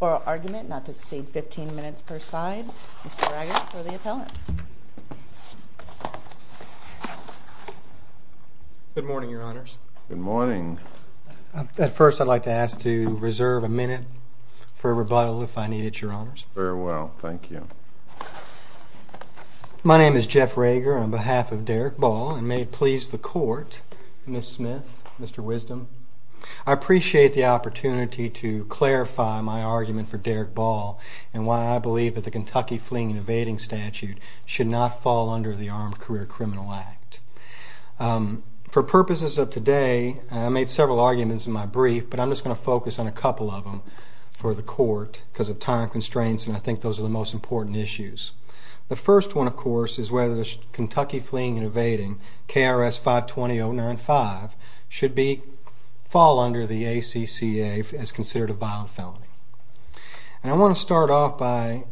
oral argument, not to exceed 15 minutes per side. Mr. Rager for the appellant. Good morning, Your Honors. Good morning. At first I'd like to ask to reserve a minute for rebuttal if I need it, Your Honors. Very well, thank you. My name is Jeff Rager on behalf of the Kentucky Fleeing and Evading Statute. I'd like to please the court, Ms. Smith, Mr. Wisdom. I appreciate the opportunity to clarify my argument for Derrick Ball and why I believe that the Kentucky Fleeing and Evading Statute should not fall under the Armed Career Criminal Act. For purposes of today, I made several arguments in my brief, but I'm just going to focus on a couple of them for the court because of time constraints and I think those are the most important issues. The first one, of course, is whether Kentucky Fleeing and Evading, KRS 520-095, should fall under the ACCA as considered a violent felony. And I want to start off by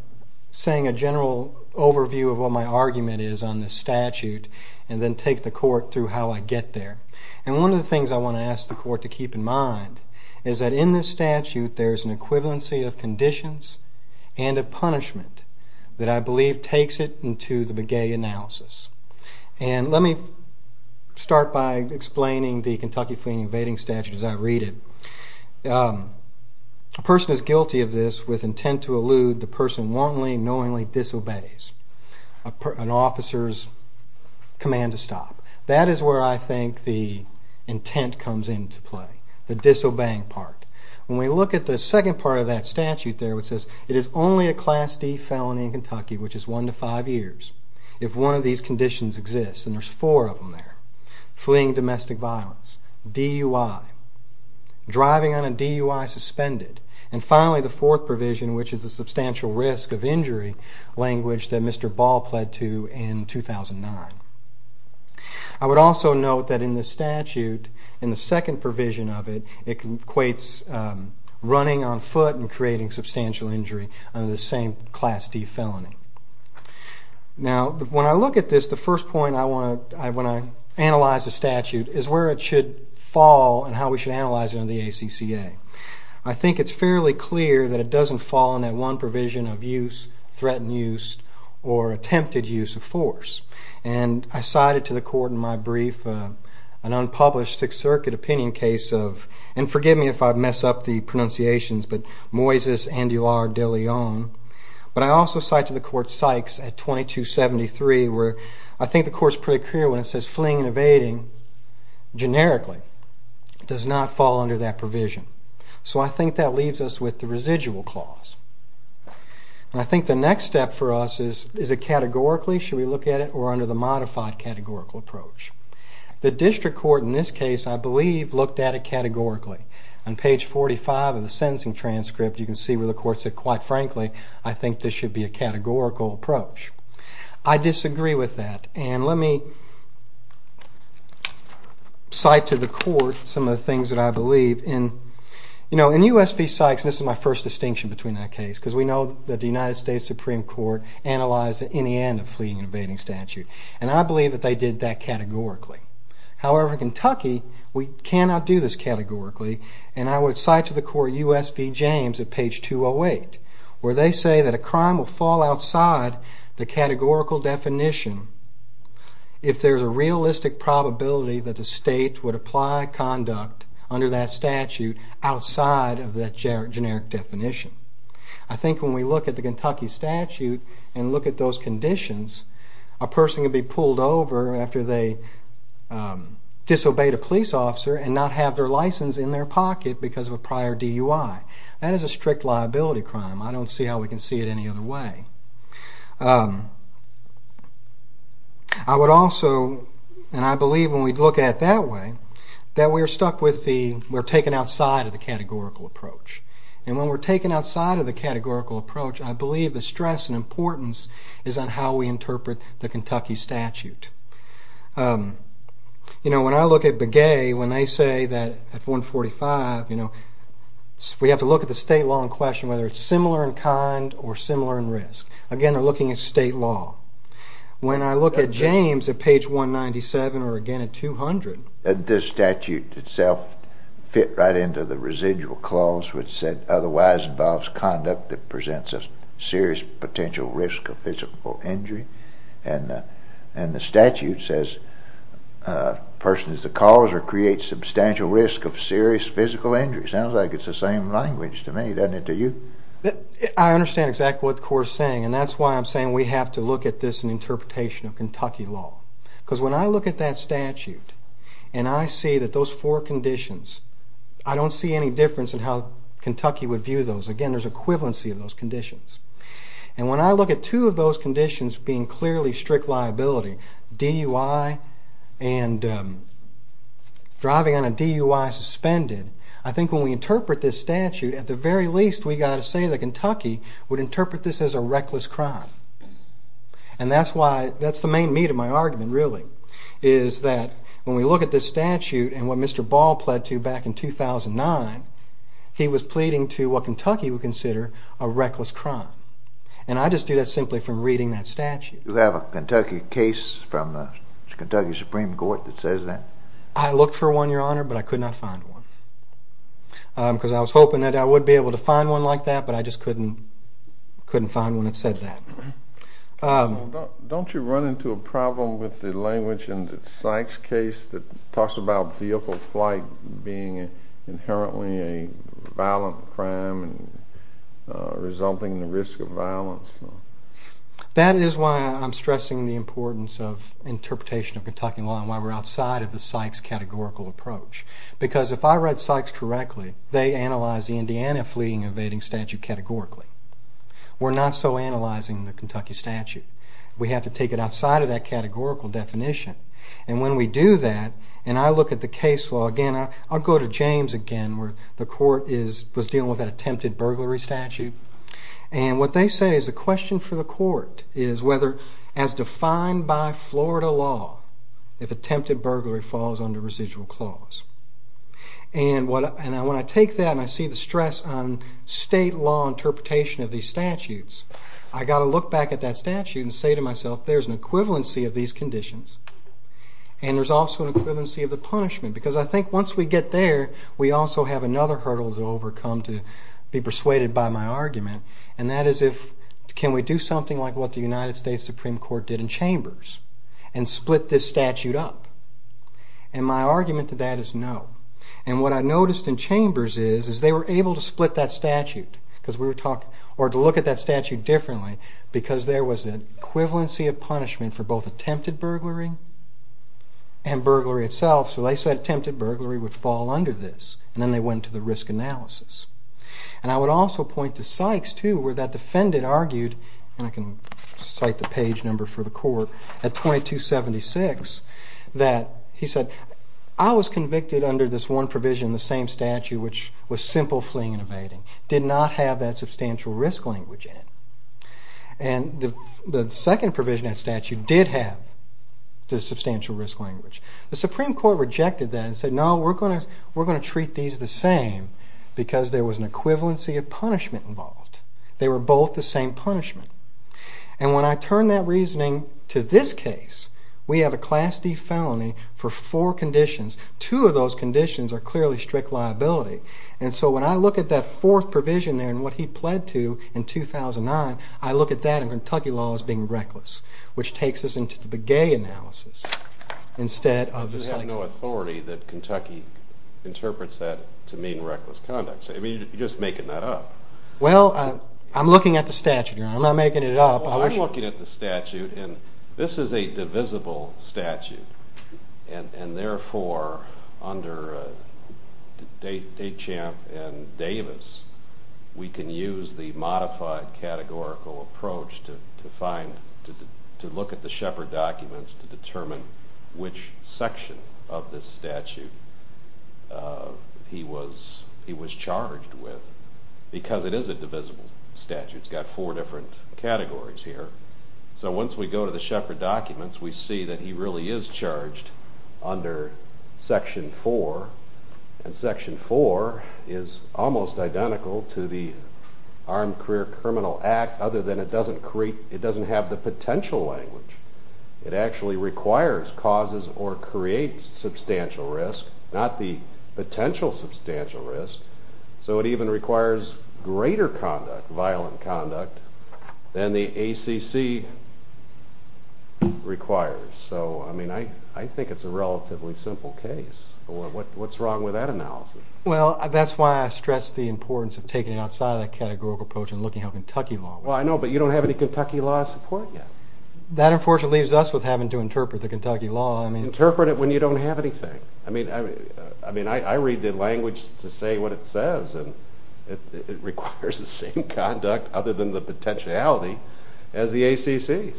saying a general overview of what my argument is on this statute and then take the court through how I get there. And one of the things I want to ask the court to keep in mind is that in this statute there is an equivalency of conditions and of punishment that I believe takes it into the McGay analysis. And let me start by explaining the Kentucky Fleeing and Evading Statute as I read it. A person is guilty of this with intent to elude the person wrongly and knowingly disobeys an officer's command to stop. That is where I think the intent comes into play, the disobeying part. When we look at the second part of that statute there, it says it is only a Class D felony in Kentucky, which is one to five years, if one of these conditions exists. And there's four of them there. Fleeing domestic violence, DUI, driving on a DUI suspended, and finally the fourth provision, which is the substantial risk of injury language that Mr. Ball pled to in 2009. I would also note that in this statute, in the second provision of it, it says running on foot and creating substantial injury under the same Class D felony. Now when I look at this, the first point I want to, when I analyze the statute, is where it should fall and how we should analyze it under the ACCA. I think it's fairly clear that it doesn't fall in that one provision of use, threatened use, or attempted use of force. And I cited to the court in my brief an unpublished Sixth Circuit opinion case of, and forgive me if I mess up the pronunciations, but Moises Andular de Leon. But I also cite to the court Sykes at 2273, where I think the court's pretty clear when it says fleeing and evading, generically, does not fall under that provision. So I think that leaves us with the residual clause. And I think the next step for us is, is it categorically, should we look at it, or under the modified categorical approach? The district court, in this case, I believe, looked at it categorically. On page 45 of the sentencing transcript, you can see where the court said, quite frankly, I think this should be a categorical approach. I disagree with that, and let me cite to the court some of the things that I believe in. You know, in U.S. v. Sykes, and this is my first distinction between that case, because we know that the United States Supreme Court analyzed, in the end, a fleeing and evading statute. And I believe that they did that categorically. However, in Kentucky, we cannot do this categorically, and I would cite to the court U.S. v. James at page 208, where they say that a crime will fall outside the categorical definition if there's a realistic probability that the state would apply conduct under that statute outside of that generic definition. I think when we look at the Kentucky statute and look at those conditions, a person can be pulled over after they disobeyed a police officer and not have their license in their pocket because of a prior DUI. That is a strict liability crime. I don't see how we can see it any other way. I would also, and I believe when we look at it that way, that we're stuck with the, we're taken outside of the categorical approach. And when we're taken outside of the categorical approach, I believe the stress and importance is on how we interpret the Kentucky statute. You know, when I look at Begay, when they say that at 145, you know, we have to look at the state law and question whether it's similar in kind or similar in risk. Again, they're looking at state law. When I look at James at page 197, or again at 200. This statute itself fit right into the residual clause, which said, otherwise involves conduct that presents a serious potential risk of physical injury. And the statute says, a person is the cause or creates substantial risk of serious physical injury. Sounds like it's the same language to me, doesn't it to you? I understand exactly what the court is saying, and that's why I'm saying we have to look at this in interpretation of Kentucky law. Because when I look at that statute and I see that those four conditions, I don't see any difference in how Kentucky would view those. Again, there's equivalency of those conditions. And when I look at two of those conditions being clearly strict liability, DUI and driving on a DUI suspended, I think when we interpret this statute, at the very least, we've got to say that Kentucky would interpret this as a reckless crime. And that's the main meat of my argument, really, is that when we look at this statute and what Mr. Ball pled to back in 2009, he was pleading to what Kentucky would consider a reckless crime. And I just do that simply from reading that statute. Do you have a Kentucky case from the Kentucky Supreme Court that says that? I looked for one, Your Honor, but I could not find one. Because I was hoping that I would be able to find one like that, but I just couldn't find one that said that. Don't you run into a problem with the language in the Sykes case that talks about vehicle flight being inherently a violent crime and resulting in the risk of violence? That is why I'm stressing the importance of interpretation of Kentucky law and why we're outside of the Sykes categorical approach. Because if I read Sykes correctly, they analyze the Indiana fleeing and evading statute categorically. We're not so analyzing the Kentucky statute. We have to take it outside of that categorical definition. And when we do that, and I look at the case law again, I'll go to James again, where the court was dealing with an attempted burglary statute. And what they say is the question for the court is whether, as defined by Florida law, if attempted burglary falls under residual clause. And when I take that and I see the stress on state law interpretation of these statutes, I've got to look back at that statute and say to myself, there's an equivalency of these conditions, and there's also an equivalency of the punishment. Because I think once we get there, we also have another hurdle to overcome to be persuaded by my argument. And that is if, can we do something like what the United States Supreme Court did in Chambers and split this statute up? And my argument to that is no. And what I noticed in Chambers is, is they were able to split that statute, or to look at that statute differently, because there was an equivalency of punishment for both attempted burglary and burglary itself. So they said attempted burglary would fall under this, and then they went to the risk analysis. And I would also point to Sykes too, where that defendant argued, and I can cite the page number for the court, at 2276, that he said, I was convicted under this one provision in the same statute, which was simple fleeing and evading, did not have that substantial risk language in it. And the second provision in that statute did have the substantial risk language. The Supreme Court rejected that and said, no, we're going to treat these the same, because there was an equivalency of punishment involved. They were both the same punishment. And when I turn that reasoning to this case, we have a Class D felony for four conditions. Two of those conditions are clearly strict liability. And so when I look at that fourth provision there, and what he slid to in 2009, I look at that in Kentucky law as being reckless, which takes us into the gay analysis instead of the Sykes case. But you have no authority that Kentucky interprets that to mean reckless conduct. I mean, you're just making that up. Well, I'm looking at the statute, Your Honor. I'm not making it up. Well, I'm looking at the statute, and this is a divisible statute. And therefore, under H.M. and Davis, we can use the modified categorical approach to look at the Shepard documents to determine which section of this statute he was charged with, because it is a divisible statute. It's got four different categories here. So once we go to the Shepard documents, we see that he really is charged under Section 4. And Section 4 is almost identical to the Armed Career Criminal Act, other than it doesn't have the potential language. It actually requires causes or creates substantial risk, not the potential substantial risk. So it even requires greater conduct, violent conduct, than the ACC requires. So, I mean, I think it's a relatively simple case. What's wrong with that analysis? Well, that's why I stress the importance of taking it outside of that categorical approach and looking at how Kentucky law works. Well, I know, but you don't have any Kentucky law support yet. That unfortunately leaves us with having to interpret the Kentucky law. Interpret it when you don't have anything. I mean, I read the language to say what it requires is the same conduct, other than the potentiality, as the ACC.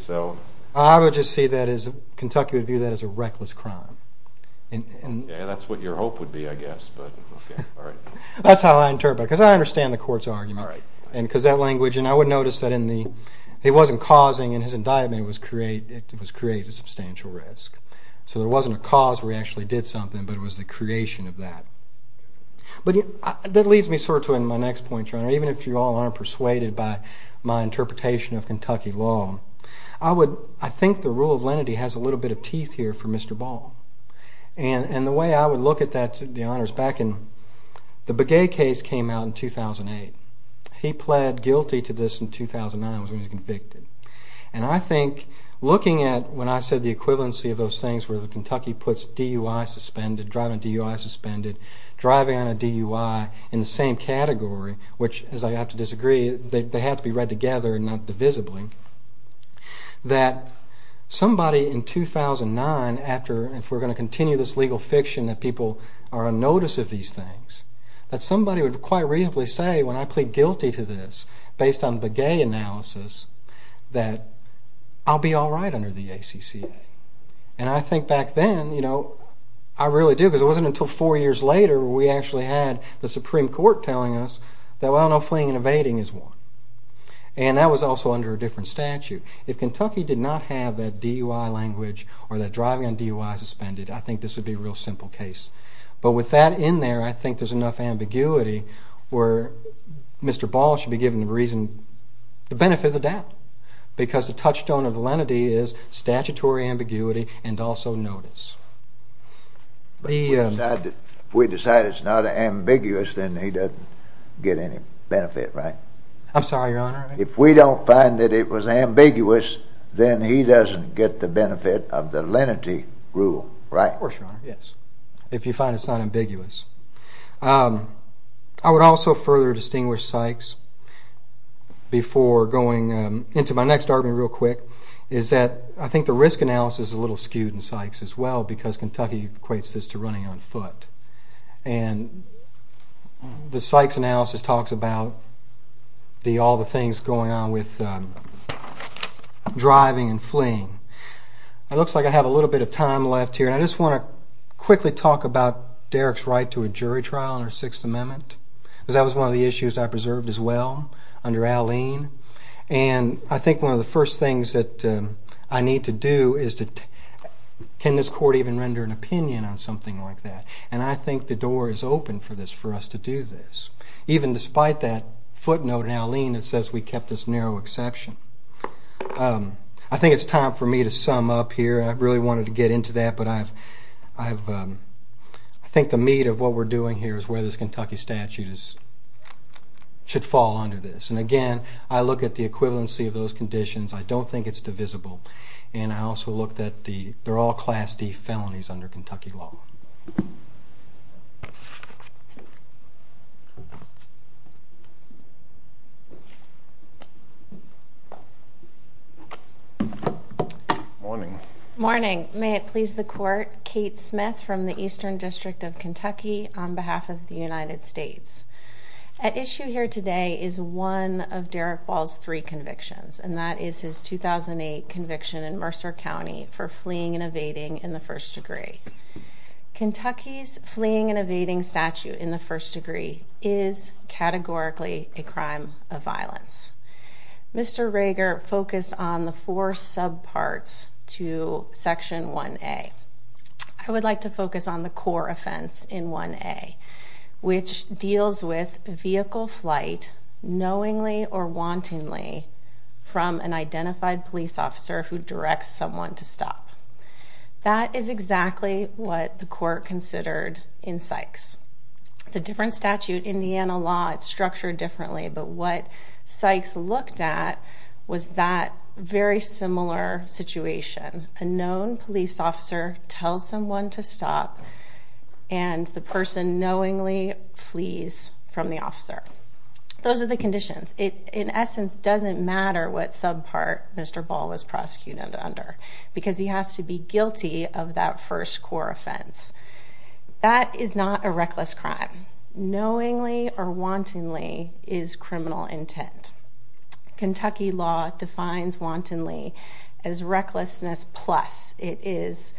I would just say that Kentucky would view that as a reckless crime. Yeah, that's what your hope would be, I guess, but, okay, all right. That's how I interpret it, because I understand the court's argument, because that language, and I would notice that it wasn't causing, in his indictment, it was creating substantial risk. So there wasn't a cause where he actually did something, but it was the creation of that. But that leads me sort of to my next point, your Honor, even if you all aren't persuaded by my interpretation of Kentucky law. I think the rule of lenity has a little bit of teeth here for Mr. Ball. And the way I would look at that, the honors, back in the Begay case came out in 2008. He pled guilty to this in 2009, was when he was convicted. And I think looking at, when I said the equivalency of those things, where Kentucky puts DUI suspended, driving DUI suspended, driving on a DUI in the same category, which, as I have to disagree, they have to be read together and not divisibly, that somebody in 2009, after, if we're going to continue this legal fiction that people are on notice of these things, that somebody would quite reasonably say, when I plead guilty to this, based on the Begay analysis, that I'll be all right under the ACCA. And I think back then, you know, I really do, because it wasn't until four years later we actually had the Supreme Court telling us that, well, no fleeing and evading is one. And that was also under a different statute. If Kentucky did not have that DUI language or that driving on DUI suspended, I think this would be a real simple case. But with that in there, I think there's enough ambiguity where Mr. Ball should be given the benefit of the doubt, because the touchstone of the lenity is statutory ambiguity and also notice. But if we decide it's not ambiguous, then he doesn't get any benefit, right? I'm sorry, Your Honor? If we don't find that it was ambiguous, then he doesn't get the benefit of the lenity rule, right? Of course, Your Honor, yes, if you find it's not ambiguous. I would also further distinguish Sykes before going into my next argument real quick, is that I think the risk analysis is a little skewed in Sykes as well, because Kentucky equates this to running on foot. And the Sykes analysis talks about all the things going on with driving and fleeing. It looks like I have a little bit of time left here, and I just want to quickly talk about Derek's right to a jury trial in our Sixth Amendment, because that was one of the issues I preserved as well under Alleen. And I think one of the first things that I need to do is, can this court even render an opinion on something like that? And I think the door is open for us to do this, even despite that footnote in Alleen that says we kept this narrow exception. I think it's time for me to sum up here. I really wanted to get into that, but I think the meat of what we're doing here is whether this Kentucky statute should fall under this. And again, I look at the equivalency of those conditions. I don't think it's divisible. And I also look that they're all Class D felonies under Kentucky law. Morning. Morning. May it please the court. Kate Smith from the Eastern District of Kentucky on behalf of the United States. At issue here today is one of Derek Ball's three convictions, and that is his 2008 conviction in Mercer County for fleeing and evading in the first degree. Kentucky's fleeing and evading statute in the first degree is categorically a crime of violence. Mr. Rager focused on the four subparts to Section 1A. I would like to focus on the core offense in 1A, which deals with vehicle flight knowingly or wantonly from an identified police officer who directs someone to stop. That is exactly what the court considered in Sykes. It's a different statute. In Indiana law, it's structured differently. But what Sykes looked at was that very similar situation. A known police officer tells someone to stop, and the person knowingly flees from the officer. Those are the conditions. In essence, it doesn't matter what subpart Mr. Ball was prosecuted under because he has to be guilty of that first core offense. That is not a reckless crime. Knowingly or wantonly is criminal intent. Kentucky law defines wantonly as recklessness plus. It is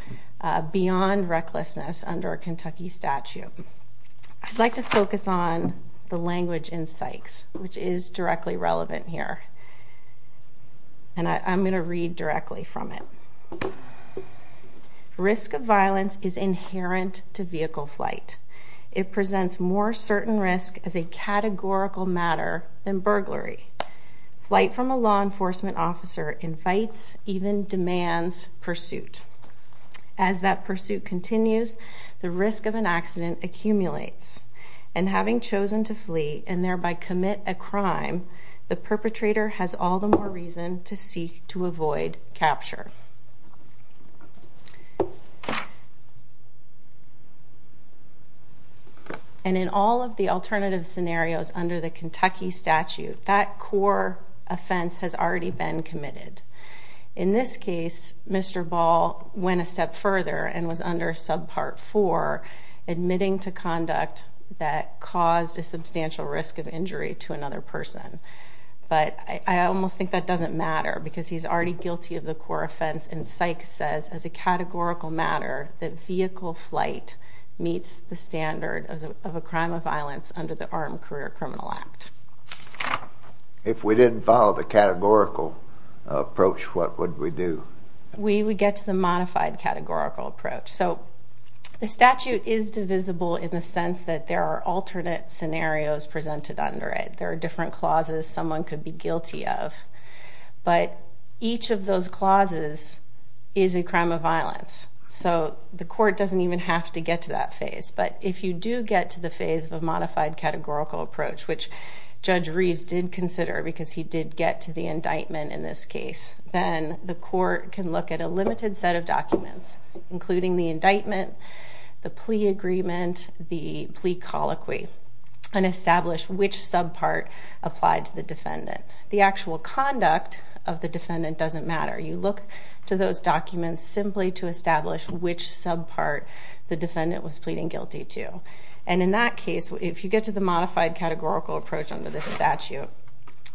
beyond recklessness under a Kentucky statute. I'd like to focus on the language in Sykes, which is directly relevant here. I'm going to read directly from it. Risk of violence is inherent to vehicle flight. It presents more certain risk as a categorical matter than burglary. Flight from a law enforcement officer invites, even demands, pursuit. As that pursuit continues, the risk of an accident accumulates. And having chosen to flee and thereby commit a crime, the perpetrator has all the more reason to seek to avoid capture. And in all of the alternative scenarios under the Kentucky statute, that core offense has already been committed. In this case, Mr. Ball went a step further and was under subpart 4, admitting to conduct that caused a substantial risk of injury to another person. But I almost think that doesn't matter because he's already guilty of the core offense. And Sykes says, as a categorical matter, that vehicle flight meets the standard of a crime of violence under the Armed Career Criminal Act. If we didn't follow the categorical approach, what would we do? We would get to the modified categorical approach. So the statute is divisible in the sense that there are alternate scenarios presented under it. There are different clauses someone could be guilty of. But each of those clauses is a crime of violence. So the court doesn't even have to get to that phase. But if you do get to the phase of a modified categorical approach, which Judge Reeves did consider because he did get to the indictment in this case, then the court can look at a limited set of documents, including the indictment, the plea agreement, the plea colloquy, and establish which subpart applied to the defendant. The actual conduct of the defendant doesn't matter. You look to those documents simply to establish which subpart the defendant was pleading guilty to. And in that case, if you get to the modified categorical approach under this statute,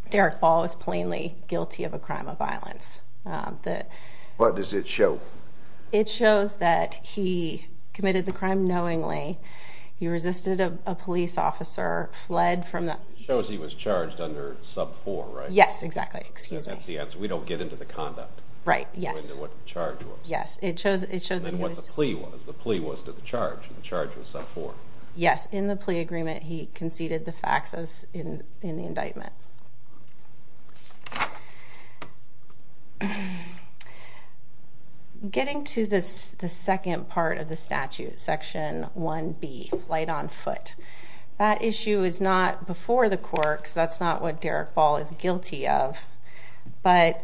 Derek Ball is plainly guilty of a crime of violence. What does it show? It shows that he committed the crime knowingly. He resisted a police officer, fled from the— It shows he was charged under sub 4, right? Yes, exactly. Excuse me. So that's the answer. We don't get into the conduct. Right. Yes. We don't get into what the charge was. Yes. It shows— It shows the plea was to the charge, and the charge was sub 4. Yes. In the plea agreement, he conceded the facts in the indictment. Getting to the second part of the statute, section 1B, flight on foot, that issue is not before the court because that's not what Derek Ball is guilty of, but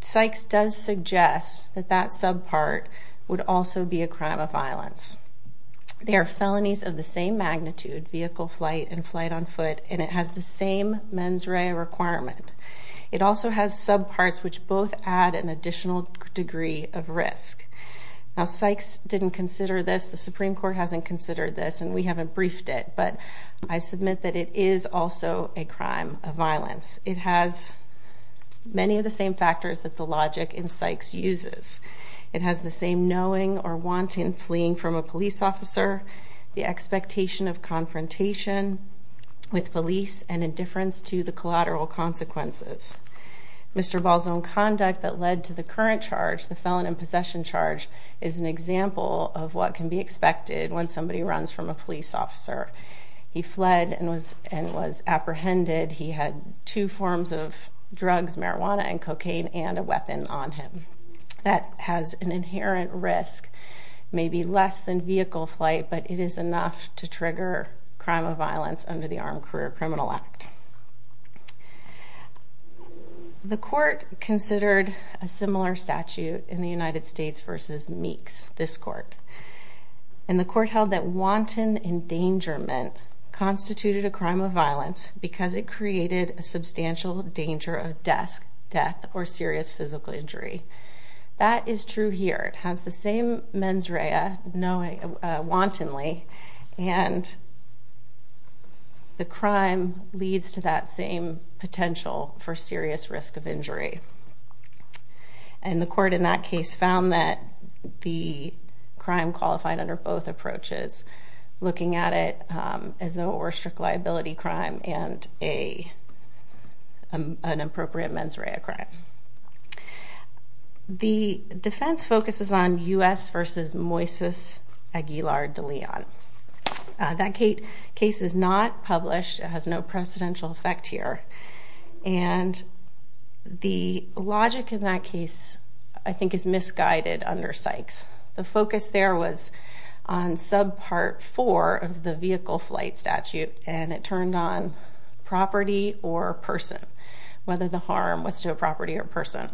Sykes does suggest that that subpart would also be a crime of violence. They are felonies of the same magnitude, vehicle, flight, and flight on foot, and it has the same mens rea requirement. It also has subparts which both add an additional degree of risk. Now, Sykes didn't consider this. The Supreme Court hasn't considered this, and we haven't briefed it, but I submit that it is also a crime of violence. It has many of the same factors that the logic in Sykes uses. It has the same knowing or want in fleeing from a police officer, the expectation of confrontation with police, and indifference to the collateral consequences. Mr. Ball's own conduct that led to the current charge, the felon in possession charge, is an example of what can be expected when somebody runs from a police officer. He fled and was apprehended. He had two forms of drugs, marijuana and cocaine, and a weapon on him. That has an inherent risk, maybe less than vehicle flight, but it is enough to trigger crime of violence under the Armed Career Criminal Act. The court considered a similar statute in the United States versus Meeks, this court, and the court held that wanton endangerment constituted a crime of violence because it created a substantial danger of death or serious physical injury. That is true here. This court has the same mens rea knowingly, wantonly, and the crime leads to that same potential for serious risk of injury. And the court in that case found that the crime qualified under both approaches, looking at it as though it were a strict liability crime and an appropriate mens rea crime. The defense focuses on U.S. versus Moises Aguilar de Leon. That case is not published. It has no precedential effect here. And the logic in that case, I think, is misguided under Sykes. The focus there was on subpart four of the vehicle flight statute, and it turned on property or person, whether the harm was to a property or person.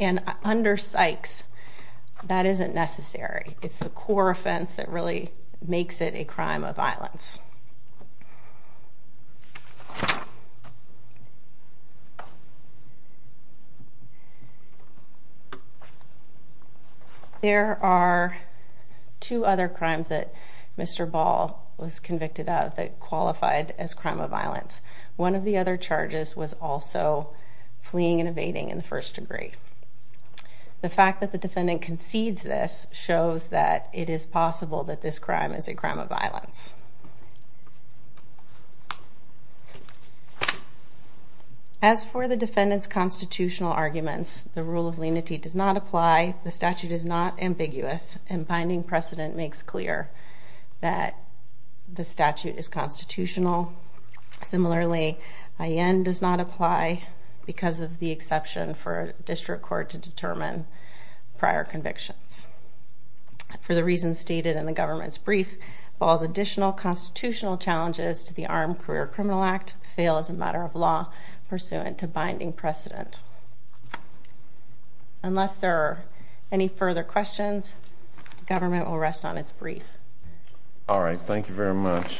And under Sykes, that isn't necessary. It's the core offense that really makes it a crime of violence. There are two other crimes that Mr. Ball was convicted of that qualified as crime of violence. One of the other charges was also fleeing and evading in the first degree. The fact that the defendant concedes this shows that it is possible that this crime is a crime of violence. As for the defendant's constitutional arguments, the rule of lenity does not apply. The statute is not ambiguous, and binding precedent makes clear that the statute is constitutional. Similarly, I.N. does not apply because of the exception for a district court to determine prior convictions. For the reasons stated in the government's brief, Ball's additional constitutional challenges to the Armed Career Criminal Act fail as a matter of law pursuant to binding precedent. Unless there are any further questions, the government will rest on its brief. All right. Thank you very much.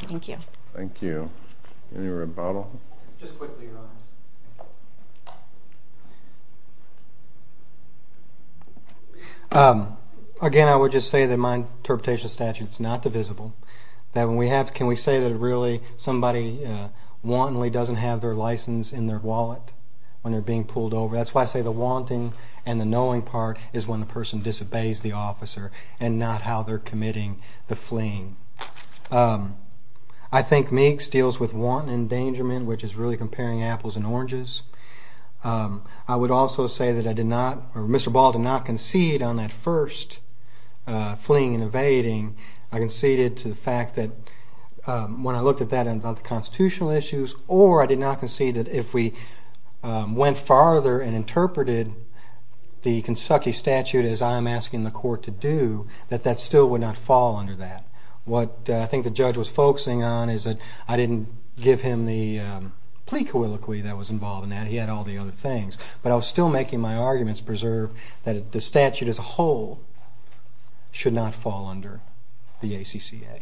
Thank you. Thank you. Any rebuttal? Just quickly, Your Honors. Again, I would just say that my interpretation of the statute is not divisible. Can we say that somebody wantonly doesn't have their license in their wallet when they're being pulled over? That's why I say the wanting and the knowing part is when the person disobeys the officer and not how they're committing the fleeing. I think Meeks deals with want and endangerment, which is really comparing apples and oranges. I would also say that I did not, or Mr. Ball did not concede on that first fleeing and evading. I conceded to the fact that when I looked at that and the constitutional issues, or I did not concede that if we went farther and interpreted the Kentucky statute as I am asking the court to do, that that still would not fall under that. What I think the judge was focusing on is that I didn't give him the plea colloquy that was involved in that. He had all the other things. But I was still making my arguments preserve that the statute as a whole should not fall under the ACCA.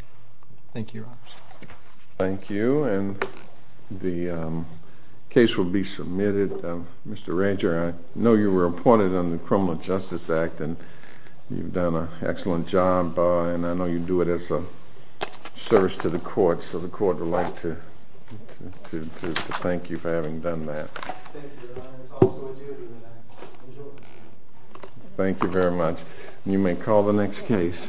Thank you, Your Honors. Thank you. And the case will be submitted. Mr. Ranger, I know you were appointed on the Criminal Justice Act, and you've done an excellent job, and I know you do it as a service to the court, so the court would like to thank you for having done that. Thank you, Your Honor. It's also a duty that I enjoy. Thank you very much. You may call the next case.